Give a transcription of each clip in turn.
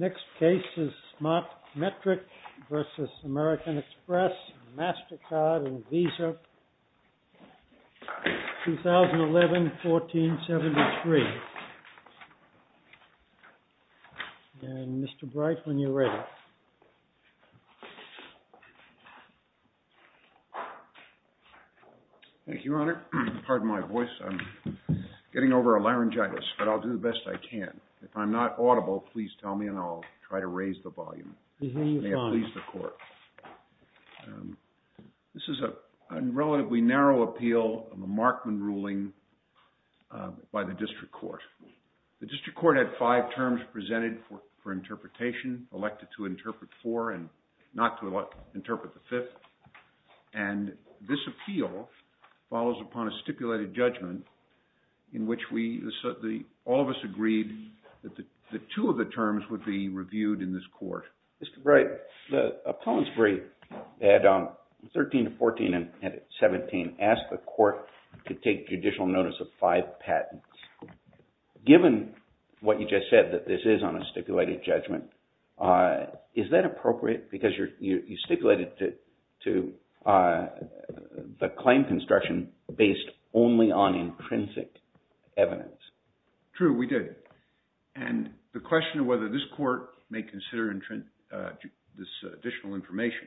Next case is SMARTMETRIC v. AMERICAN EXPRESS. Mastercard and Visa, 2011-1473. And Mr. Bright, when you're ready. Thank you, Your Honor. Pardon my voice. I'm getting over a laryngitis, but I'll do the best I can. If I'm not audible, please tell me and I'll try to raise the volume. You may have pleased the court. This is a relatively narrow appeal of a Markman ruling by the district court. The district court had five terms presented for interpretation, elected to interpret four and not to interpret the fifth. And this appeal follows upon a stipulated judgment in which all of us agreed that the two of the terms would be reviewed in this court. Mr. Bright, the appellant's brief at 13, 14, and 17 asked the court to take judicial notice of five patents. Given what you just said, that this is on a stipulated judgment, is that appropriate? Because you stipulated to the claim construction based only on intrinsic evidence. True, we did. And the question of whether this court may consider this additional information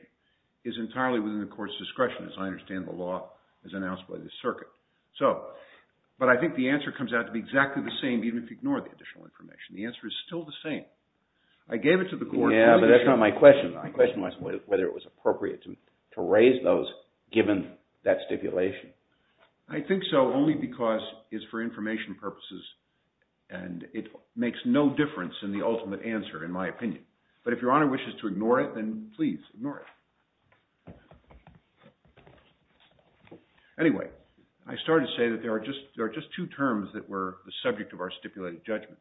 is entirely within the court's discretion, as I understand the law as announced by the circuit. But I think the answer comes out to be exactly the same even if you ignore the additional information. The answer is still the same. I gave it to the court. Yeah, but that's not my question. My question was whether it was appropriate to raise those given that stipulation. I think so only because it's for information purposes and it makes no difference in the ultimate answer in my opinion. But if Your Honor wishes to ignore it, then please ignore it. Anyway, I started to say that there are just two terms that were the subject of our stipulated judgment.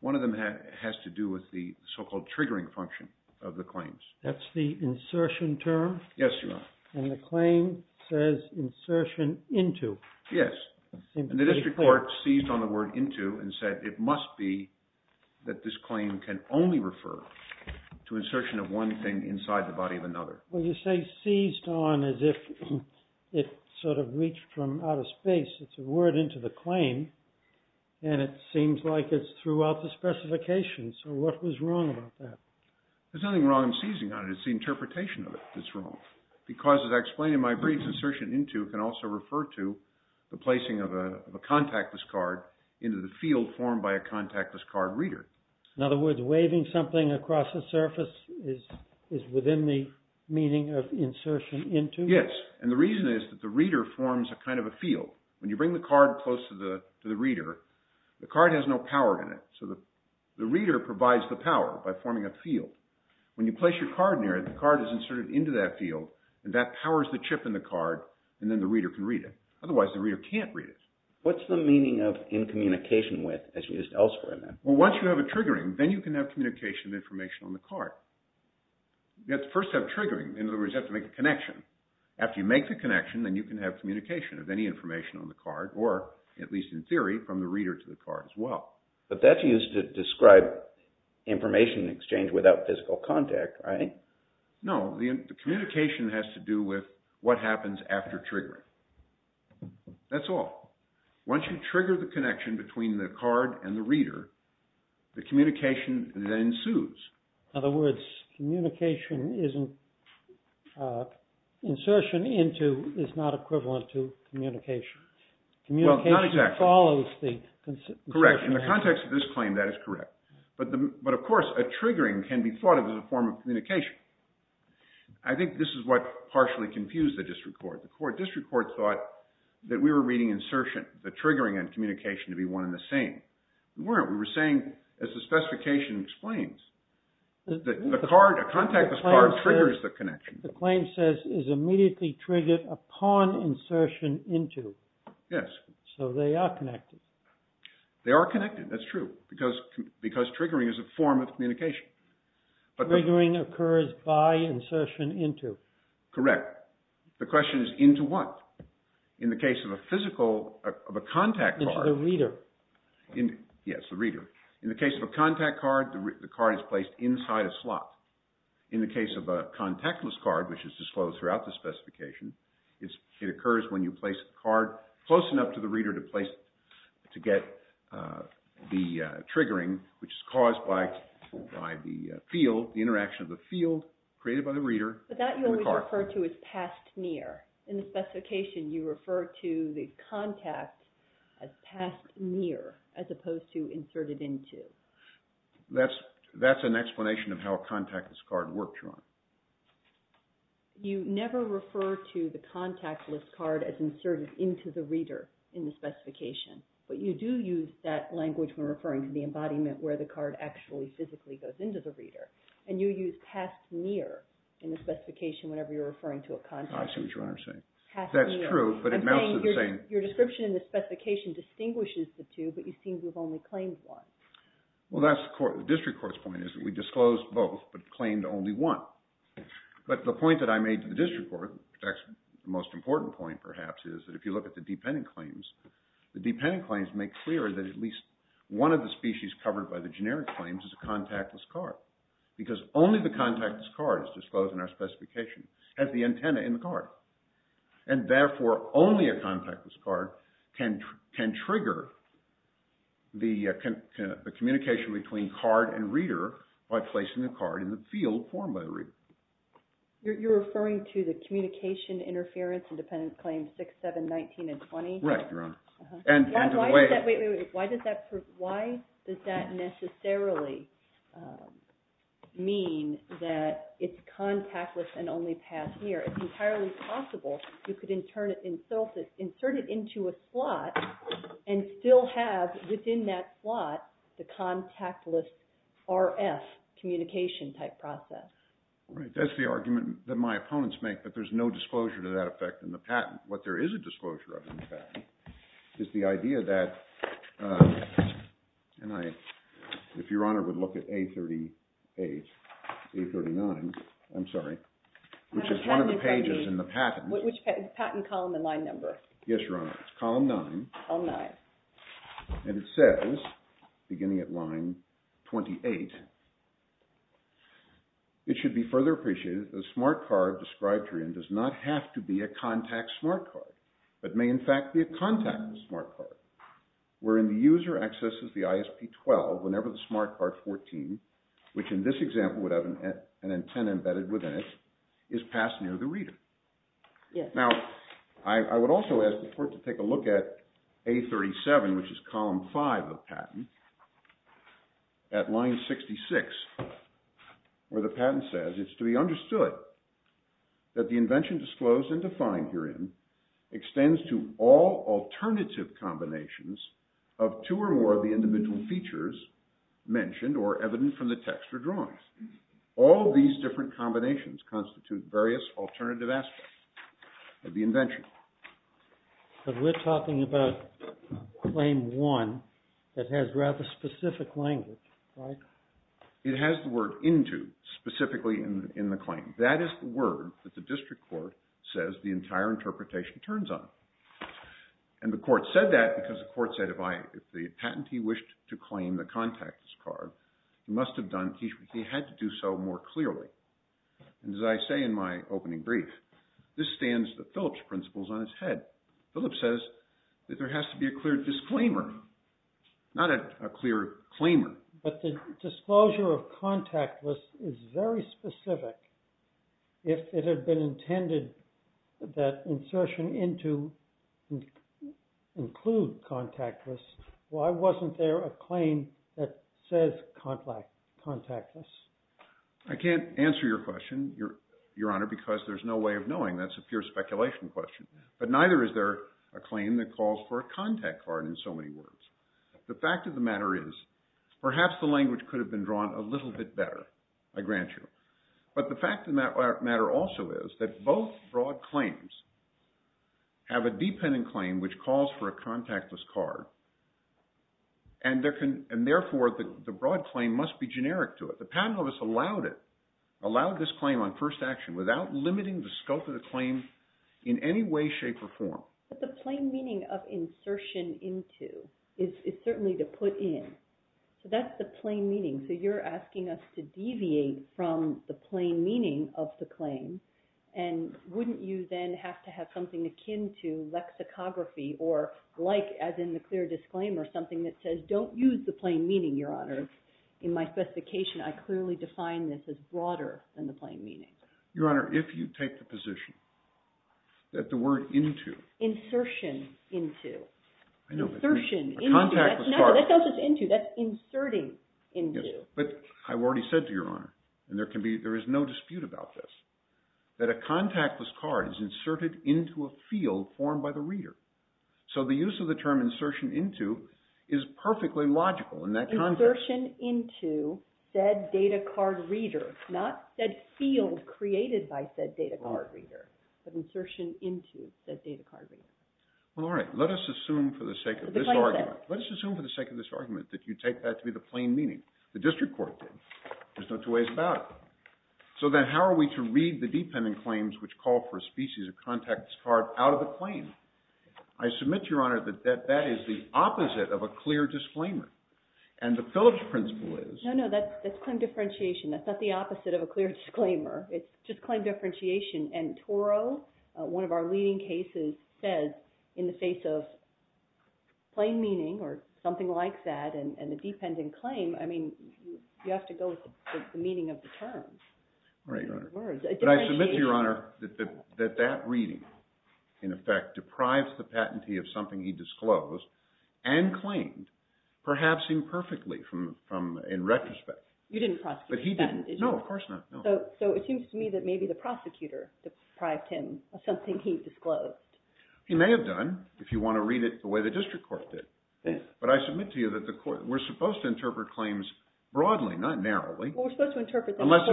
One of them has to do with the so-called triggering function of the claims. That's the insertion term? Yes, Your Honor. And the claim says insertion into. Yes. And the district court seized on the word into and said it must be that this claim can only refer to insertion of one thing inside the body of another. Well, you say seized on as if it sort of reached from out of space. It's a word into the claim and it seems like it's throughout the specification. So what was wrong about that? There's nothing wrong in seizing on it. It's the interpretation of it that's wrong. Because as I explained in my brief, insertion into can also refer to the placing of a contactless card into the field formed by a contactless card reader. In other words, waving something across a surface is within the meaning of insertion into? Yes. And the reason is that the reader forms a kind of a field. When you bring the card close to the reader, the card has no power in it. So the reader provides the power by forming a field. When you place your card near it, the card is inserted into that field and that powers the chip in the card and then the reader can read it. Otherwise, the reader can't read it. What's the meaning of in communication with as used elsewhere in that? Well, once you have a triggering, then you can have communication of information on the card. You have to first have triggering. In other words, you have to make a connection. After you make the connection, then you can have communication of any information on the card or, at least in theory, from the reader to the card as well. But that's used to describe information exchange without physical contact, right? No. The communication has to do with what happens after triggering. That's all. Once you trigger the connection between the card and the reader, the communication then ensues. In other words, communication isn't – insertion into is not equivalent to communication. Well, not exactly. Communication follows the insertion. Correct. In the context of this claim, that is correct. But, of course, a triggering can be thought of as a form of communication. I think this is what partially confused the district court. The district court thought that we were reading insertion, the triggering and communication to be one and the same. We weren't. We were saying, as the specification explains, the card – a contactless card triggers the connection. The claim says, is immediately triggered upon insertion into. Yes. So they are connected. They are connected. That's true because triggering is a form of communication. Triggering occurs by insertion into. Correct. The question is into what? In the case of a physical – of a contact card. Into the reader. Yes, the reader. In the case of a contact card, the card is placed inside a slot. In the case of a contactless card, which is disclosed throughout the specification, it occurs when you place a card close enough to the reader to get the triggering, which is caused by the field, the interaction of the field created by the reader. But that you always refer to as past near. In the specification, you refer to the contact as past near as opposed to inserted into. That's an explanation of how a contactless card works, Your Honor. You never refer to the contactless card as inserted into the reader in the specification. But you do use that language when referring to the embodiment where the card actually physically goes into the reader. And you use past near in the specification whenever you're referring to a contact. I see what Your Honor is saying. Past near. That's true, but it amounts to the same – I'm saying your description in the specification distinguishes the two, but you seem to have only claimed one. Well, that's the court – the district court's point is that we disclosed both but claimed only one. But the point that I made to the district court – the most important point, perhaps, is that if you look at the dependent claims, the dependent claims make clear that at least one of the species covered by the generic claims is a contactless card. Because only the contactless card is disclosed in our specification as the antenna in the card. And therefore, only a contactless card can trigger the communication between card and reader by placing the card in the field formed by the reader. You're referring to the communication interference in dependent claims 6, 7, 19, and 20? Right, Your Honor. Why does that necessarily mean that it's contactless and only past near? It's entirely possible you could insert it into a slot and still have within that slot the contactless RF communication type process. Right, that's the argument that my opponents make, that there's no disclosure to that effect in the patent. What there is a disclosure of, in fact, is the idea that – and if Your Honor would look at A38, A39, I'm sorry, which is one of the pages in the patent. Which patent? Column and line number? Yes, Your Honor. It's column 9. Column 9. And it says, beginning at line 28, it should be further appreciated that the smart card described herein does not have to be a contact smart card, but may in fact be a contactless smart card, wherein the user accesses the ISP-12 whenever the smart card 14, which in this example would have an antenna embedded within it, is passed near the reader. Now, I would also ask the Court to take a look at A37, which is column 5 of the patent, at line 66, where the patent says, it's to be understood that the invention disclosed and defined herein extends to all alternative combinations of two or more of the individual features mentioned or evident from the text or drawings. All these different combinations constitute various alternative aspects of the invention. But we're talking about claim 1 that has rather specific language, right? It has the word into specifically in the claim. That is the word that the district court says the entire interpretation turns on. And the Court said that because the Court said if the patentee wished to claim the contactless card, he must have done, he had to do so more clearly. And as I say in my opening brief, this stands the Phillips principles on its head. Phillips says that there has to be a clear disclaimer, not a clear claimer. But the disclosure of contactless is very specific. If it had been intended that insertion into include contactless, why wasn't there a claim that says contactless? I can't answer your question, Your Honor, because there's no way of knowing. That's a pure speculation question. But neither is there a claim that calls for a contact card in so many words. The fact of the matter is perhaps the language could have been drawn a little bit better, I grant you. But the fact of the matter also is that both broad claims have a dependent claim which calls for a contactless card. And therefore, the broad claim must be generic to it. The patent office allowed it, allowed this claim on first action without limiting the scope of the claim in any way, shape, or form. But the plain meaning of insertion into is certainly to put in. So that's the plain meaning. So you're asking us to deviate from the plain meaning of the claim. And wouldn't you then have to have something akin to lexicography or like, as in the clear disclaimer, something that says don't use the plain meaning, Your Honor? In my specification, I clearly define this as broader than the plain meaning. Your Honor, if you take the position that the word into… Insertion into. I know, but… Insertion into. A contactless card. No, that's not just into. That's inserting into. Yes, but I've already said to Your Honor, and there is no dispute about this, that a contactless card is inserted into a field formed by the reader. So the use of the term insertion into is perfectly logical in that context. Insertion into said data card reader, not said field created by said data card reader, but insertion into said data card reader. Well, all right. Let us assume for the sake of this argument that you take that to be the plain meaning. The district court did. There's no two ways about it. So then how are we to read the dependent claims which call for a species of contactless card out of the claim? I submit to Your Honor that that is the opposite of a clear disclaimer, and the Phillips principle is… No, no, that's claim differentiation. That's not the opposite of a clear disclaimer. It's just claim differentiation, and Toro, one of our leading cases, says in the face of plain meaning or something like that and the dependent claim, I mean, you have to go with the meaning of the term. But I submit to Your Honor that that reading, in effect, deprives the patentee of something he disclosed and claimed, perhaps imperfectly in retrospect. You didn't prosecute the patent, did you? No, of course not. So it seems to me that maybe the prosecutor deprived him of something he disclosed. He may have done, if you want to read it the way the district court did. But I submit to you that we're supposed to interpret claims broadly, not narrowly. Unless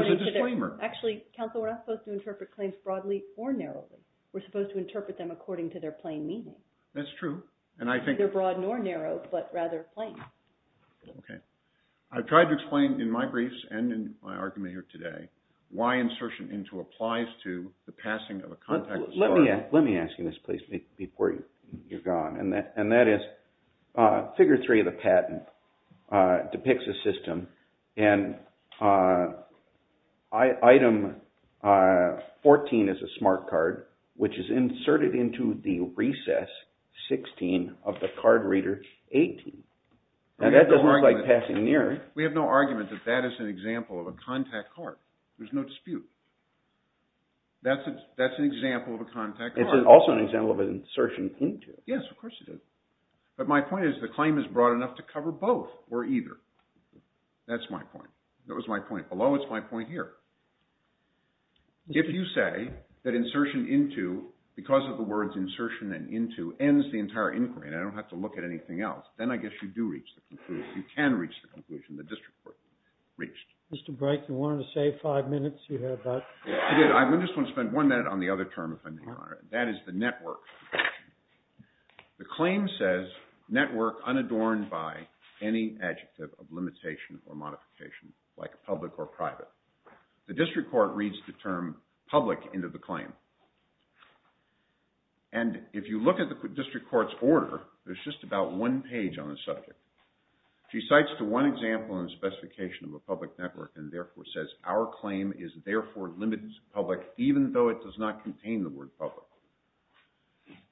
there's a disclaimer. Actually, counsel, we're not supposed to interpret claims broadly or narrowly. We're supposed to interpret them according to their plain meaning. That's true. Neither broad nor narrow, but rather plain. Okay. I've tried to explain in my briefs and in my argument here today why insertion into applies to the passing of a contactless card. Let me ask you this, please, before you're gone. And that is, figure three of the patent depicts a system, and item 14 is a smart card, which is inserted into the recess 16 of the card reader 18. And that doesn't look like passing near. We have no argument that that is an example of a contact card. There's no dispute. That's an example of a contact card. It's also an example of an insertion into. Yes, of course it is. But my point is the claim is broad enough to cover both or either. That's my point. That was my point below. It's my point here. If you say that insertion into, because of the words insertion and into, ends the entire inquiry and I don't have to look at anything else, then I guess you do reach the conclusion. You can reach the conclusion the district court reached. Mr. Brake, you wanted to save five minutes. You have that. I just want to spend one minute on the other term, if I may, Your Honor. That is the network. The claim says network unadorned by any adjective of limitation or modification, like public or private. The district court reads the term public into the claim. And if you look at the district court's order, there's just about one page on the subject. She cites the one example and specification of a public network and therefore says our claim is therefore limited to public even though it does not contain the word public.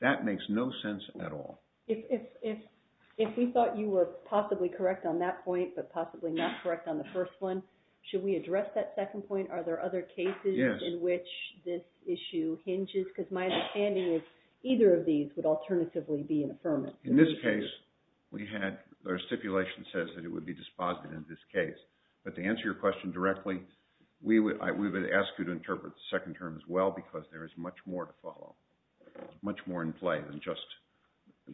That makes no sense at all. If we thought you were possibly correct on that point but possibly not correct on the first one, should we address that second point? Are there other cases in which this issue hinges? Because my understanding is either of these would alternatively be an affirmative. In this case, our stipulation says that it would be dispositive in this case. But to answer your question directly, we would ask you to interpret the second term as well because there is much more to follow, much more in play than just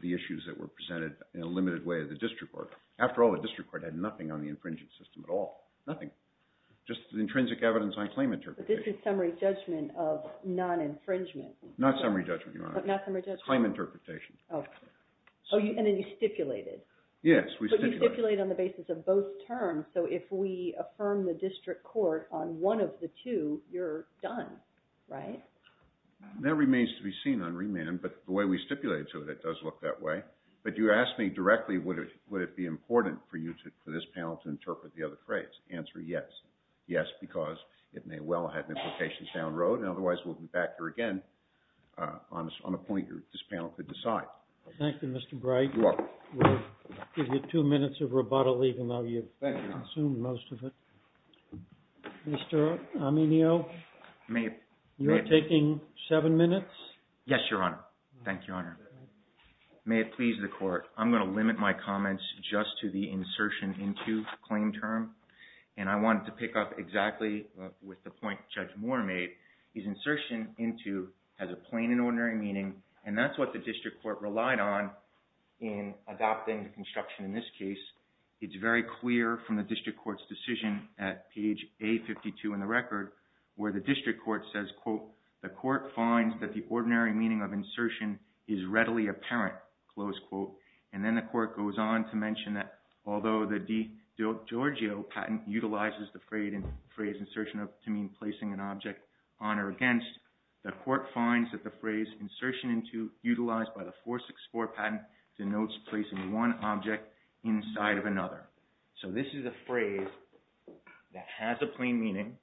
the issues that were presented in a limited way of the district court. After all, the district court had nothing on the infringing system at all, nothing, just the intrinsic evidence on claim interpretation. But this is summary judgment of non-infringement. Not summary judgment, Your Honor. But not summary judgment. Claim interpretation. Okay. And then you stipulated. Yes, we stipulated. But you stipulated on the basis of both terms. So if we affirm the district court on one of the two, you're done, right? That remains to be seen on remand. But the way we stipulated to it, it does look that way. But you asked me directly would it be important for this panel to interpret the other phrase. Answer, yes. Yes, because it may well have implications down the road, and otherwise we'll be back here again on a point this panel could decide. Thank you, Mr. Bright. You're welcome. We'll give you two minutes of rebuttal even though you've consumed most of it. Thank you, Your Honor. Mr. Aminio, you're taking seven minutes? Yes, Your Honor. Thank you, Your Honor. May it please the Court. I'm going to limit my comments just to the insertion into claim term. And I wanted to pick up exactly with the point Judge Moore made. His insertion into has a plain and ordinary meaning, and that's what the district court relied on in adopting the construction in this case. It's very clear from the district court's decision at page A52 in the record where the district court says, quote, the court finds that the ordinary meaning of insertion is readily apparent, close quote. And then the court goes on to mention that although the DiGiorgio patent utilizes the phrase insertion to mean placing an object on or against, the court finds that the phrase insertion into, utilized by the 464 patent, denotes placing one object inside of another. So this is a phrase that has a plain meaning.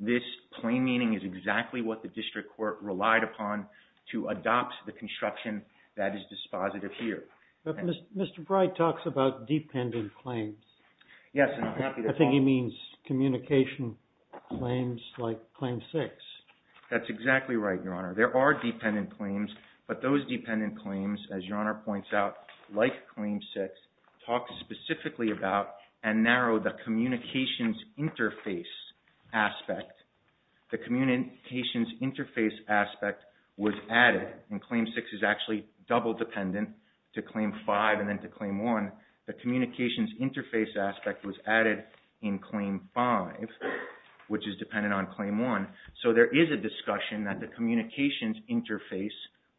This plain meaning is exactly what the district court relied upon to adopt the construction that is dispositive here. But Mr. Bright talks about dependent claims. Yes. I think he means communication claims like Claim 6. That's exactly right, Your Honor. There are dependent claims, but those dependent claims, as Your Honor points out, like Claim 6, talk specifically about and narrow the communications interface aspect. The communications interface aspect was added, and Claim 6 is actually double dependent to Claim 5 and then to Claim 1. The communications interface aspect was added in Claim 5, which is dependent on Claim 1. So there is a discussion that the communications interface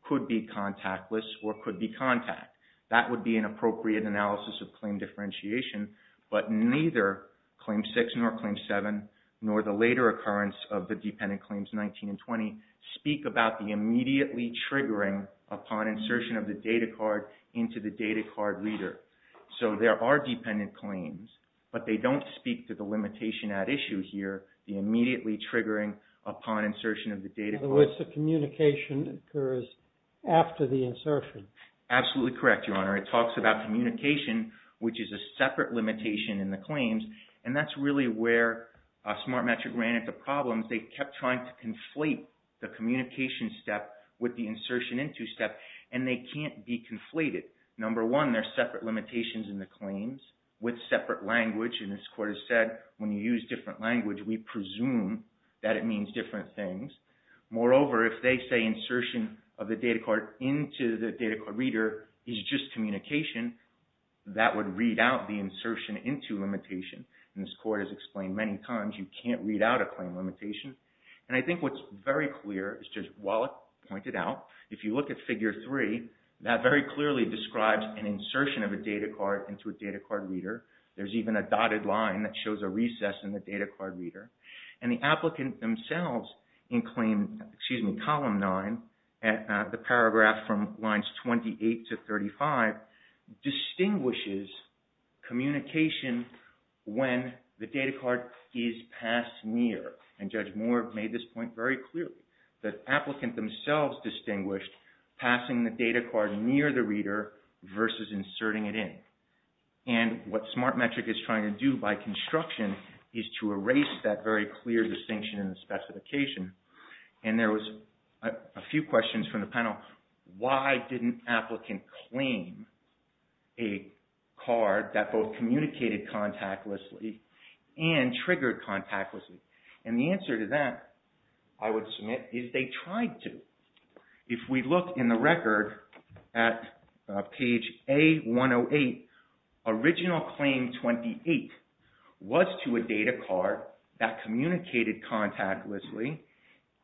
could be contactless or could be contact. That would be an appropriate analysis of claim differentiation. But neither Claim 6 nor Claim 7, nor the later occurrence of the dependent claims 19 and 20, speak about the immediately triggering upon insertion of the data card into the data card reader. So there are dependent claims, but they don't speak to the limitation at issue here, the immediately triggering upon insertion of the data card. In other words, the communication occurs after the insertion. Absolutely correct, Your Honor. It talks about communication, which is a separate limitation in the claims, and that's really where SmartMetric ran into problems. They kept trying to conflate the communication step with the insertion into step, and they can't be conflated. Number one, there are separate limitations in the claims with separate language. And this Court has said, when you use different language, we presume that it means different things. Moreover, if they say insertion of the data card into the data card reader is just communication, that would read out the insertion into limitation. And this Court has explained many times you can't read out a claim limitation. And I think what's very clear, as Judge Wallach pointed out, if you look at Figure 3, that very clearly describes an insertion of a data card into a data card reader. There's even a dotted line that shows a recess in the data card reader. And the applicant themselves in claim, excuse me, Column 9, the paragraph from lines 28 to 35, distinguishes communication when the data card is passed near. And Judge Moore made this point very clearly. The applicant themselves distinguished passing the data card near the reader versus inserting it in. And what SmartMetric is trying to do by construction is to erase that very clear distinction in the specification. And there was a few questions from the panel. Why didn't applicant claim a card that both communicated contactlessly and triggered contactlessly? And the answer to that, I would submit, is they tried to. If we look in the record at page A108, original claim 28 was to a data card that communicated contactlessly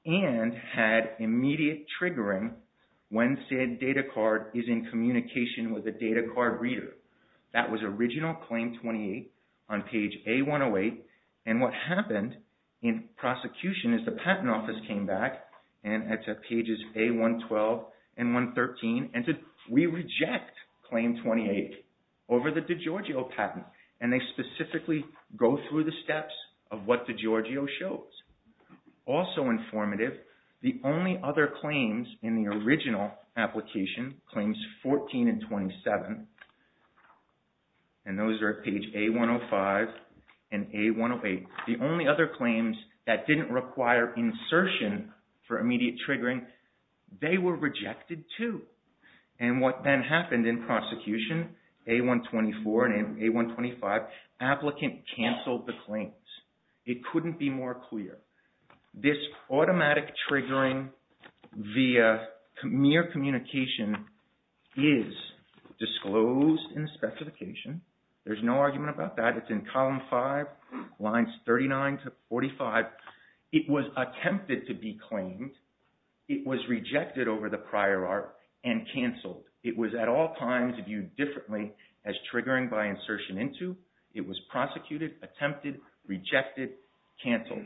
and had immediate triggering when said data card is in communication with a data card reader. That was original claim 28 on page A108. And what happened in prosecution is the patent office came back and at pages A112 and 113 and said we reject claim 28 over the DiGiorgio patent. And they specifically go through the steps of what DiGiorgio shows. Also informative, the only other claims in the original application, claims 14 and 27, and those are at page A105 and A108, the only other claims that didn't require insertion for immediate triggering, they were rejected too. And what then happened in prosecution, A124 and A125, applicant canceled the claims. It couldn't be more clear. This automatic triggering via mere communication is disclosed in the specification. There's no argument about that. It's in column 5, lines 39 to 45. It was attempted to be claimed. It was rejected over the prior art and canceled. It was at all times viewed differently as triggering by insertion into. It was prosecuted, attempted, rejected, canceled.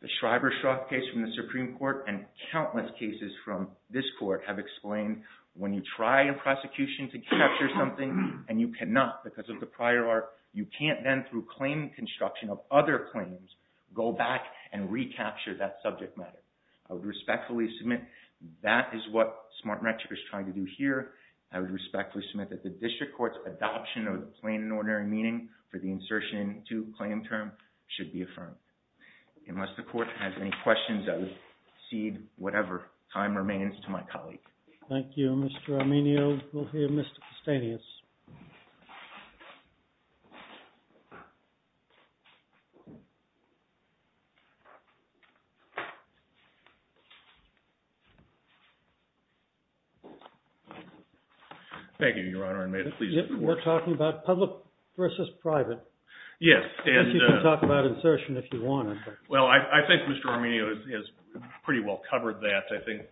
The Schreiber-Schrock case from the Supreme Court and countless cases from this court have explained when you try in prosecution to capture something and you cannot because of the prior art, you can't then through claim construction of other claims go back and recapture that subject matter. I would respectfully submit that is what smart metrics is trying to do here. I would respectfully submit that the district court's adoption of the plain and ordinary meaning for the insertion to claim term should be affirmed. Unless the court has any questions, I would cede whatever time remains to my colleague. Thank you, Mr. Arminio. We'll hear Mr. Castanis. Thank you, Your Honor. We're talking about public versus private. Yes. You can talk about insertion if you want. Well, I think Mr. Arminio has pretty well covered that. I think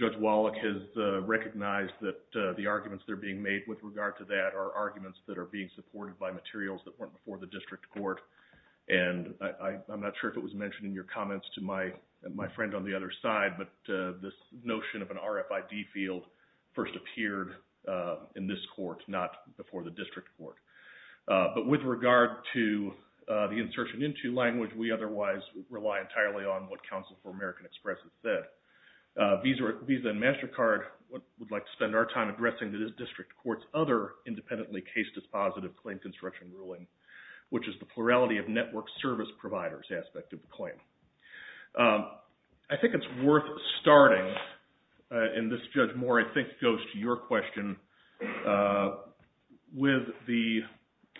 Judge Wallach has recognized that the arguments that are being made with regard to that are arguments that are being supported by materials that weren't before the district court. And I'm not sure if it was mentioned in your comments to my friend on the other side, but this notion of an RFID field first appeared in this court, not before the district court. But with regard to the insertion into language, we otherwise rely entirely on what Counsel for American Express has said. Visa and MasterCard would like to spend our time addressing this district court's other independently case dispositive claim construction ruling, which is the plurality of network service providers aspect of the claim. I think it's worth starting, and this, Judge Moore, I think goes to your question, with the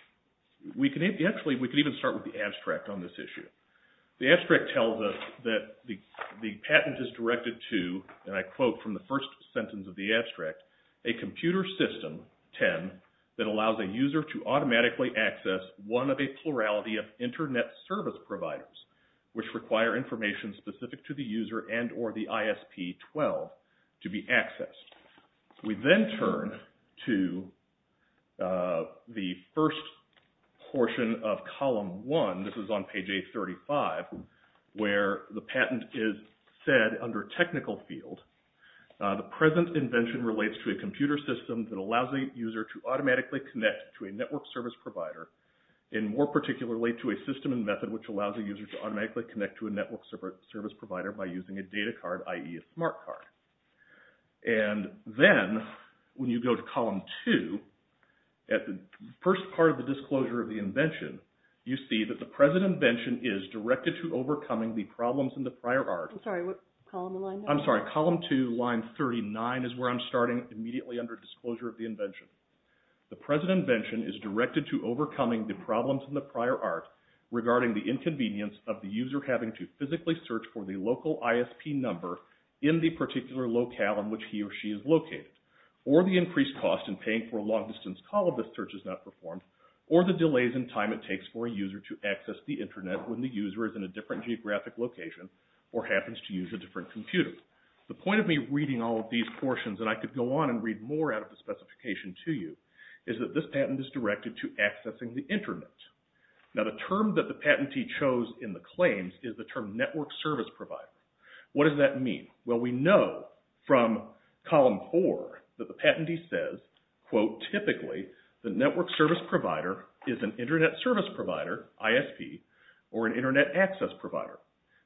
– actually, we could even start with the abstract on this issue. The abstract tells us that the patent is directed to, and I quote from the first sentence of the abstract, a computer system, 10, that allows a user to automatically access one of a plurality of internet service providers, which require information specific to the user and or the ISP-12 to be accessed. We then turn to the first portion of Column 1. This is on page 835, where the patent is said under technical field, the present invention relates to a computer system that allows a user to automatically connect to a network service provider, and more particularly to a system and method which allows a user to automatically connect to a network service provider by using a data card, i.e. a smart card. And then when you go to Column 2, at the first part of the disclosure of the invention, you see that the present invention is directed to overcoming the problems in the prior art. I'm sorry, what column are we on? I'm sorry, Column 2, line 39 is where I'm starting, immediately under disclosure of the invention. The present invention is directed to overcoming the problems in the prior art, regarding the inconvenience of the user having to physically search for the local ISP number in the particular locale in which he or she is located, or the increased cost in paying for a long-distance call if the search is not performed, or the delays in time it takes for a user to access the internet when the user is in a different geographic location or happens to use a different computer. The point of me reading all of these portions, and I could go on and read more out of the specification to you, is that this patent is directed to accessing the internet. Now the term that the patentee chose in the claims is the term network service provider. What does that mean? Well, we know from Column 4 that the patentee says, quote, typically the network service provider is an internet service provider, ISP, or an internet access provider.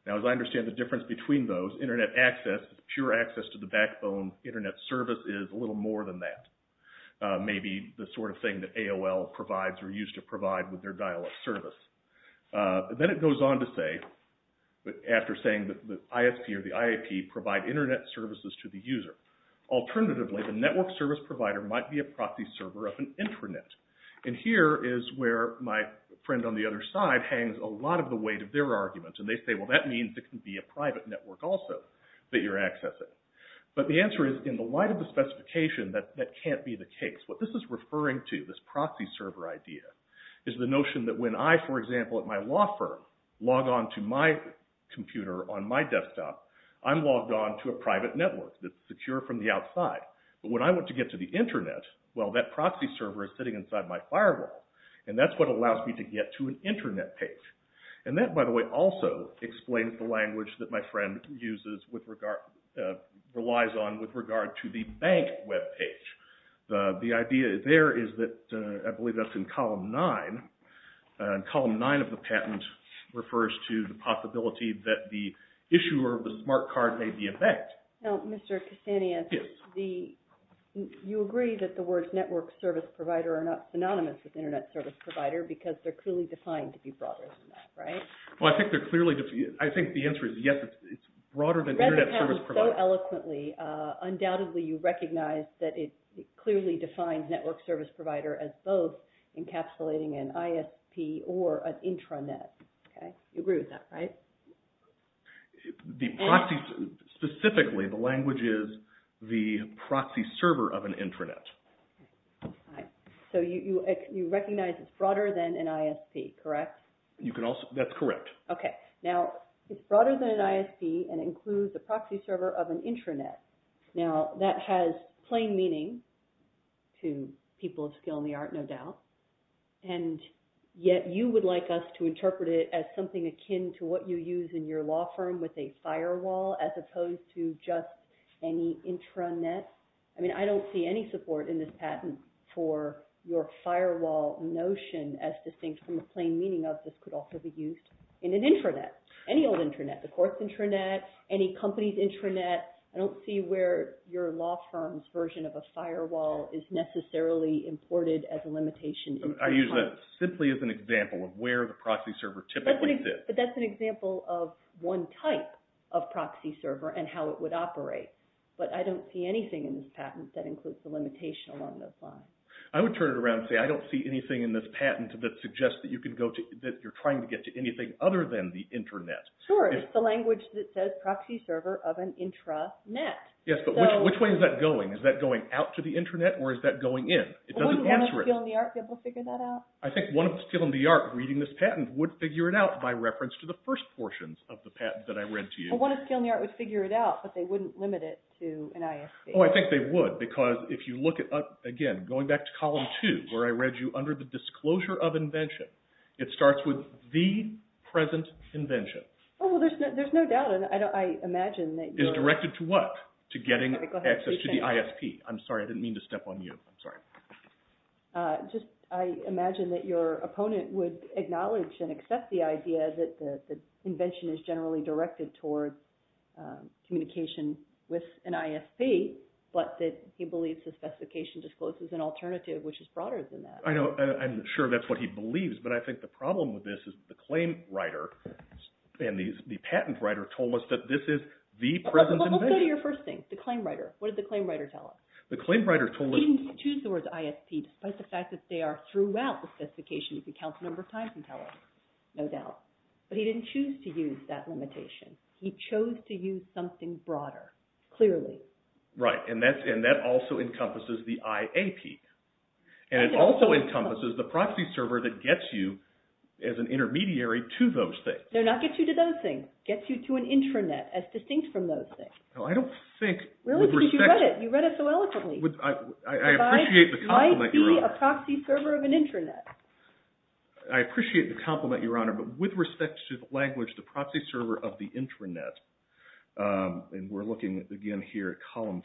Now as I understand the difference between those, internet access, pure access to the backbone internet service is a little more than that. Maybe the sort of thing that AOL provides or used to provide with their dial-up service. Then it goes on to say, after saying that the ISP or the IAP provide internet services to the user, alternatively the network service provider might be a proxy server of an intranet. And here is where my friend on the other side hangs a lot of the weight of their argument, and they say, well, that means it can be a private network also that you're accessing. But the answer is, in the light of the specification, that can't be the case. What this is referring to, this proxy server idea, is the notion that when I, for example, at my law firm, log on to my computer on my desktop, I'm logged on to a private network that's secure from the outside. But when I want to get to the intranet, well, that proxy server is sitting inside my firewall, and that's what allows me to get to an intranet page. And that, by the way, also explains the language that my friend uses with regard, relies on with regard to the bank web page. The idea there is that, I believe that's in Column 9. Column 9 of the patent refers to the possibility that the issuer of the smart card may be a bank. Now, Mr. Castaneda, you agree that the words network service provider are not synonymous with internet service provider because they're clearly defined to be broader than that, right? Well, I think they're clearly defined. I think the answer is yes, it's broader than internet service provider. Rather than so eloquently, undoubtedly you recognize that it clearly defines network service provider as both encapsulating an ISP or an intranet. You agree with that, right? Specifically, the language is the proxy server of an intranet. So you recognize it's broader than an ISP, correct? That's correct. Okay. Now, it's broader than an ISP and includes a proxy server of an intranet. Now, that has plain meaning to people of skill in the art, no doubt. And yet you would like us to interpret it as something akin to what you use in your law firm with a firewall as opposed to just any intranet. I mean, I don't see any support in this patent for your firewall notion as distinct from the plain meaning of this could also be used in an intranet, any old intranet, the court's intranet, any company's intranet. I don't see where your law firm's version of a firewall is necessarily imported as a limitation. I use that simply as an example of where the proxy server typically sits. But that's an example of one type of proxy server and how it would operate. But I don't see anything in this patent that includes the limitation along those lines. I would turn it around and say I don't see anything in this patent that suggests that you can go to, that you're trying to get to anything other than the intranet. Sure, it's the language that says proxy server of an intranet. Yes, but which way is that going? Is that going out to the intranet or is that going in? It doesn't answer it. Wouldn't one of the people in the art be able to figure that out? I think one of the people in the art reading this patent would figure it out by reference to the first portions of the patent that I read to you. Well, one of the people in the art would figure it out, but they wouldn't limit it to an ISP. Oh, I think they would because if you look at, again, going back to column two, where I read you under the disclosure of invention, it starts with the present invention. Oh, well, there's no doubt and I imagine that you're— Is directed to what? To getting access to the ISP. I'm sorry. I didn't mean to step on you. I'm sorry. I imagine that your opponent would acknowledge and accept the idea that the invention is generally directed towards communication with an ISP, but that he believes the specification discloses an alternative which is broader than that. I'm sure that's what he believes, but I think the problem with this is the claim writer and the patent writer told us that this is the present invention. Let's go to your first thing, the claim writer. What did the claim writer tell us? The claim writer told us— He didn't choose the words ISP despite the fact that they are throughout the specification if you count the number of times he tells us, no doubt, but he didn't choose to use that limitation. He chose to use something broader, clearly. Right, and that also encompasses the IAP, and it also encompasses the proxy server that gets you as an intermediary to those things. No, not gets you to those things. Gets you to an intranet as distinct from those things. Well, I don't think— Really, because you read it. You read it so eloquently. I appreciate the compliment, Your Honor. Why be a proxy server of an intranet? I appreciate the compliment, Your Honor, but with respect to the language, the proxy server of the intranet, and we're looking again here at column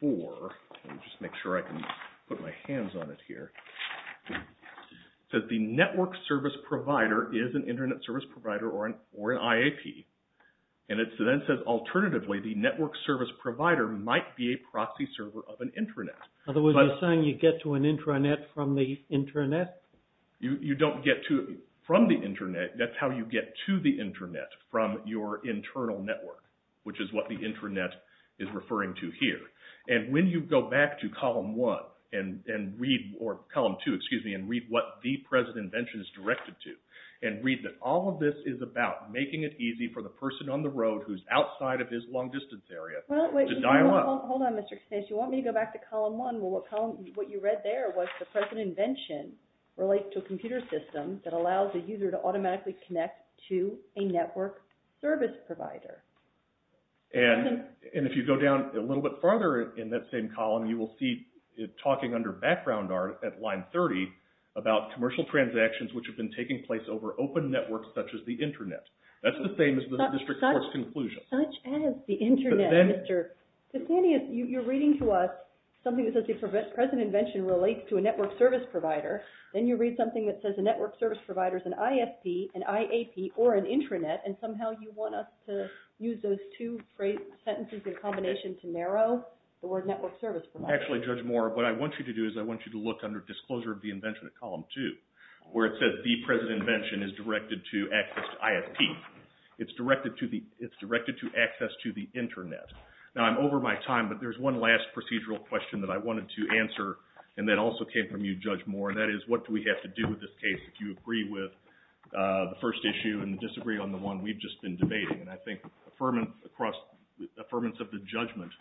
four. Let me just make sure I can put my hands on it here. It says the network service provider is an intranet service provider or an IAP, and then it says alternatively, the network service provider might be a proxy server of an intranet. In other words, you're saying you get to an intranet from the intranet? You don't get to it from the intranet. That's how you get to the intranet, from your internal network, which is what the intranet is referring to here. And when you go back to column one and read—or column two, excuse me, and read what the present invention is directed to and read that all of this is about making it easy for the person on the road who's outside of his long-distance area to dial up— Hold on, Mr. Knauss. You want me to go back to column one? Well, what you read there was the present invention relates to a computer system that allows a user to automatically connect to a network service provider. And if you go down a little bit farther in that same column, you will see it talking under background art at line 30 about commercial transactions which have been taking place over open networks such as the intranet. That's the same as the district court's conclusion. Such as the intranet, Mr. Knauss. You're reading to us something that says the present invention relates to a network service provider. Then you read something that says a network service provider is an ISP, an IAP, or an intranet, and somehow you want us to use those two sentences in combination to narrow the word network service provider. Actually, Judge Moore, what I want you to do is I want you to look under disclosure of the invention at column two where it says the present invention is directed to access to ISP. It's directed to access to the intranet. Now, I'm over my time, but there's one last procedural question that I wanted to answer and that also came from you, Judge Moore, and that is what do we have to do with this case if you agree with the first issue and disagree on the one we've just been debating. And I think affirmance of the judgment,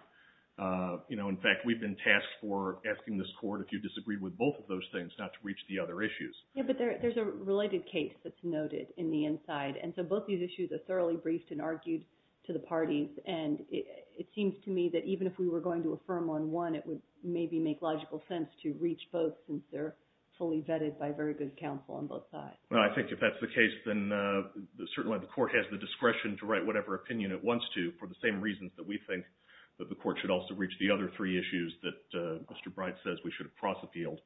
you know, in fact, we've been tasked for asking this court if you disagree with both of those things not to reach the other issues. Yeah, but there's a related case that's noted in the inside, and so both these issues are thoroughly briefed and argued to the parties, and it seems to me that even if we were going to affirm on one, it would maybe make logical sense to reach both since they're fully vetted by very good counsel on both sides. Well, I think if that's the case, then certainly the court has the discretion to write whatever opinion it wants to for the same reasons that we think that the court should also reach the other three issues that Mr. Bright says we should have cross-appealed.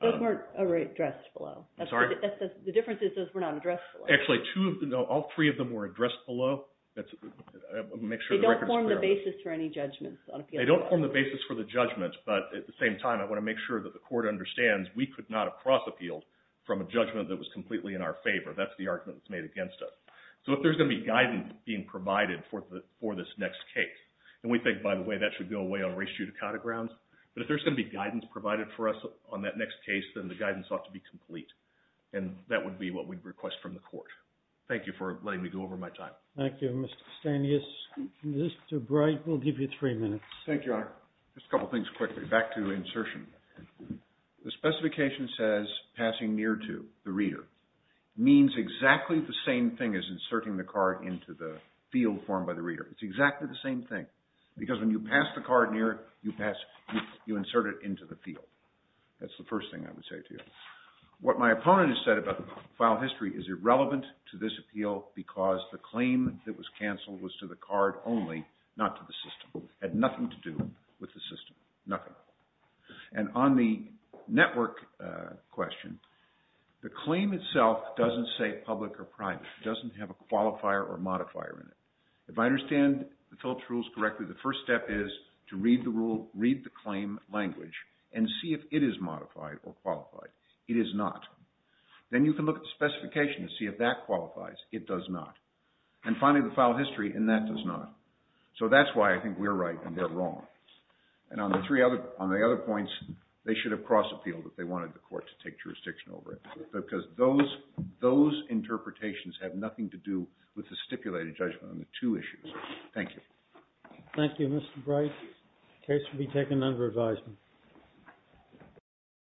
Those weren't addressed below. I'm sorry? The difference is those were not addressed below. Actually, all three of them were addressed below. They don't form the basis for any judgments on appeal. They don't form the basis for the judgment, but at the same time, I want to make sure that the court understands we could not have cross-appealed from a judgment that was completely in our favor. That's the argument that's made against us. So if there's going to be guidance being provided for this next case, and we think, by the way, that should go away on res judicata grounds, but if there's going to be guidance provided for us on that next case, then the guidance ought to be complete, and that would be what we'd request from the court. Thank you for letting me go over my time. Thank you, Mr. Stanius. Mr. Bright, we'll give you three minutes. Thank you, Your Honor. Just a couple things quickly. Back to insertion. The specification says, passing near to the reader, means exactly the same thing as inserting the card into the field formed by the reader. It's exactly the same thing, because when you pass the card near, you insert it into the field. That's the first thing I would say to you. What my opponent has said about file history is irrelevant to this appeal because the claim that was canceled was to the card only, not to the system. It had nothing to do with the system. Nothing. And on the network question, the claim itself doesn't say public or private. It doesn't have a qualifier or modifier in it. If I understand the Phillips rules correctly, the first step is to read the rule, read the claim language, and see if it is modified or qualified. It is not. Then you can look at the specification and see if that qualifies. It does not. And finally, the file history, and that does not. So that's why I think we're right and they're wrong. And on the other points, they should have crossed the field if they wanted the court to take jurisdiction over it, because those interpretations have nothing to do with the stipulated judgment on the two issues. Thank you. Thank you, Mr. Bright. The case will be taken under advisement.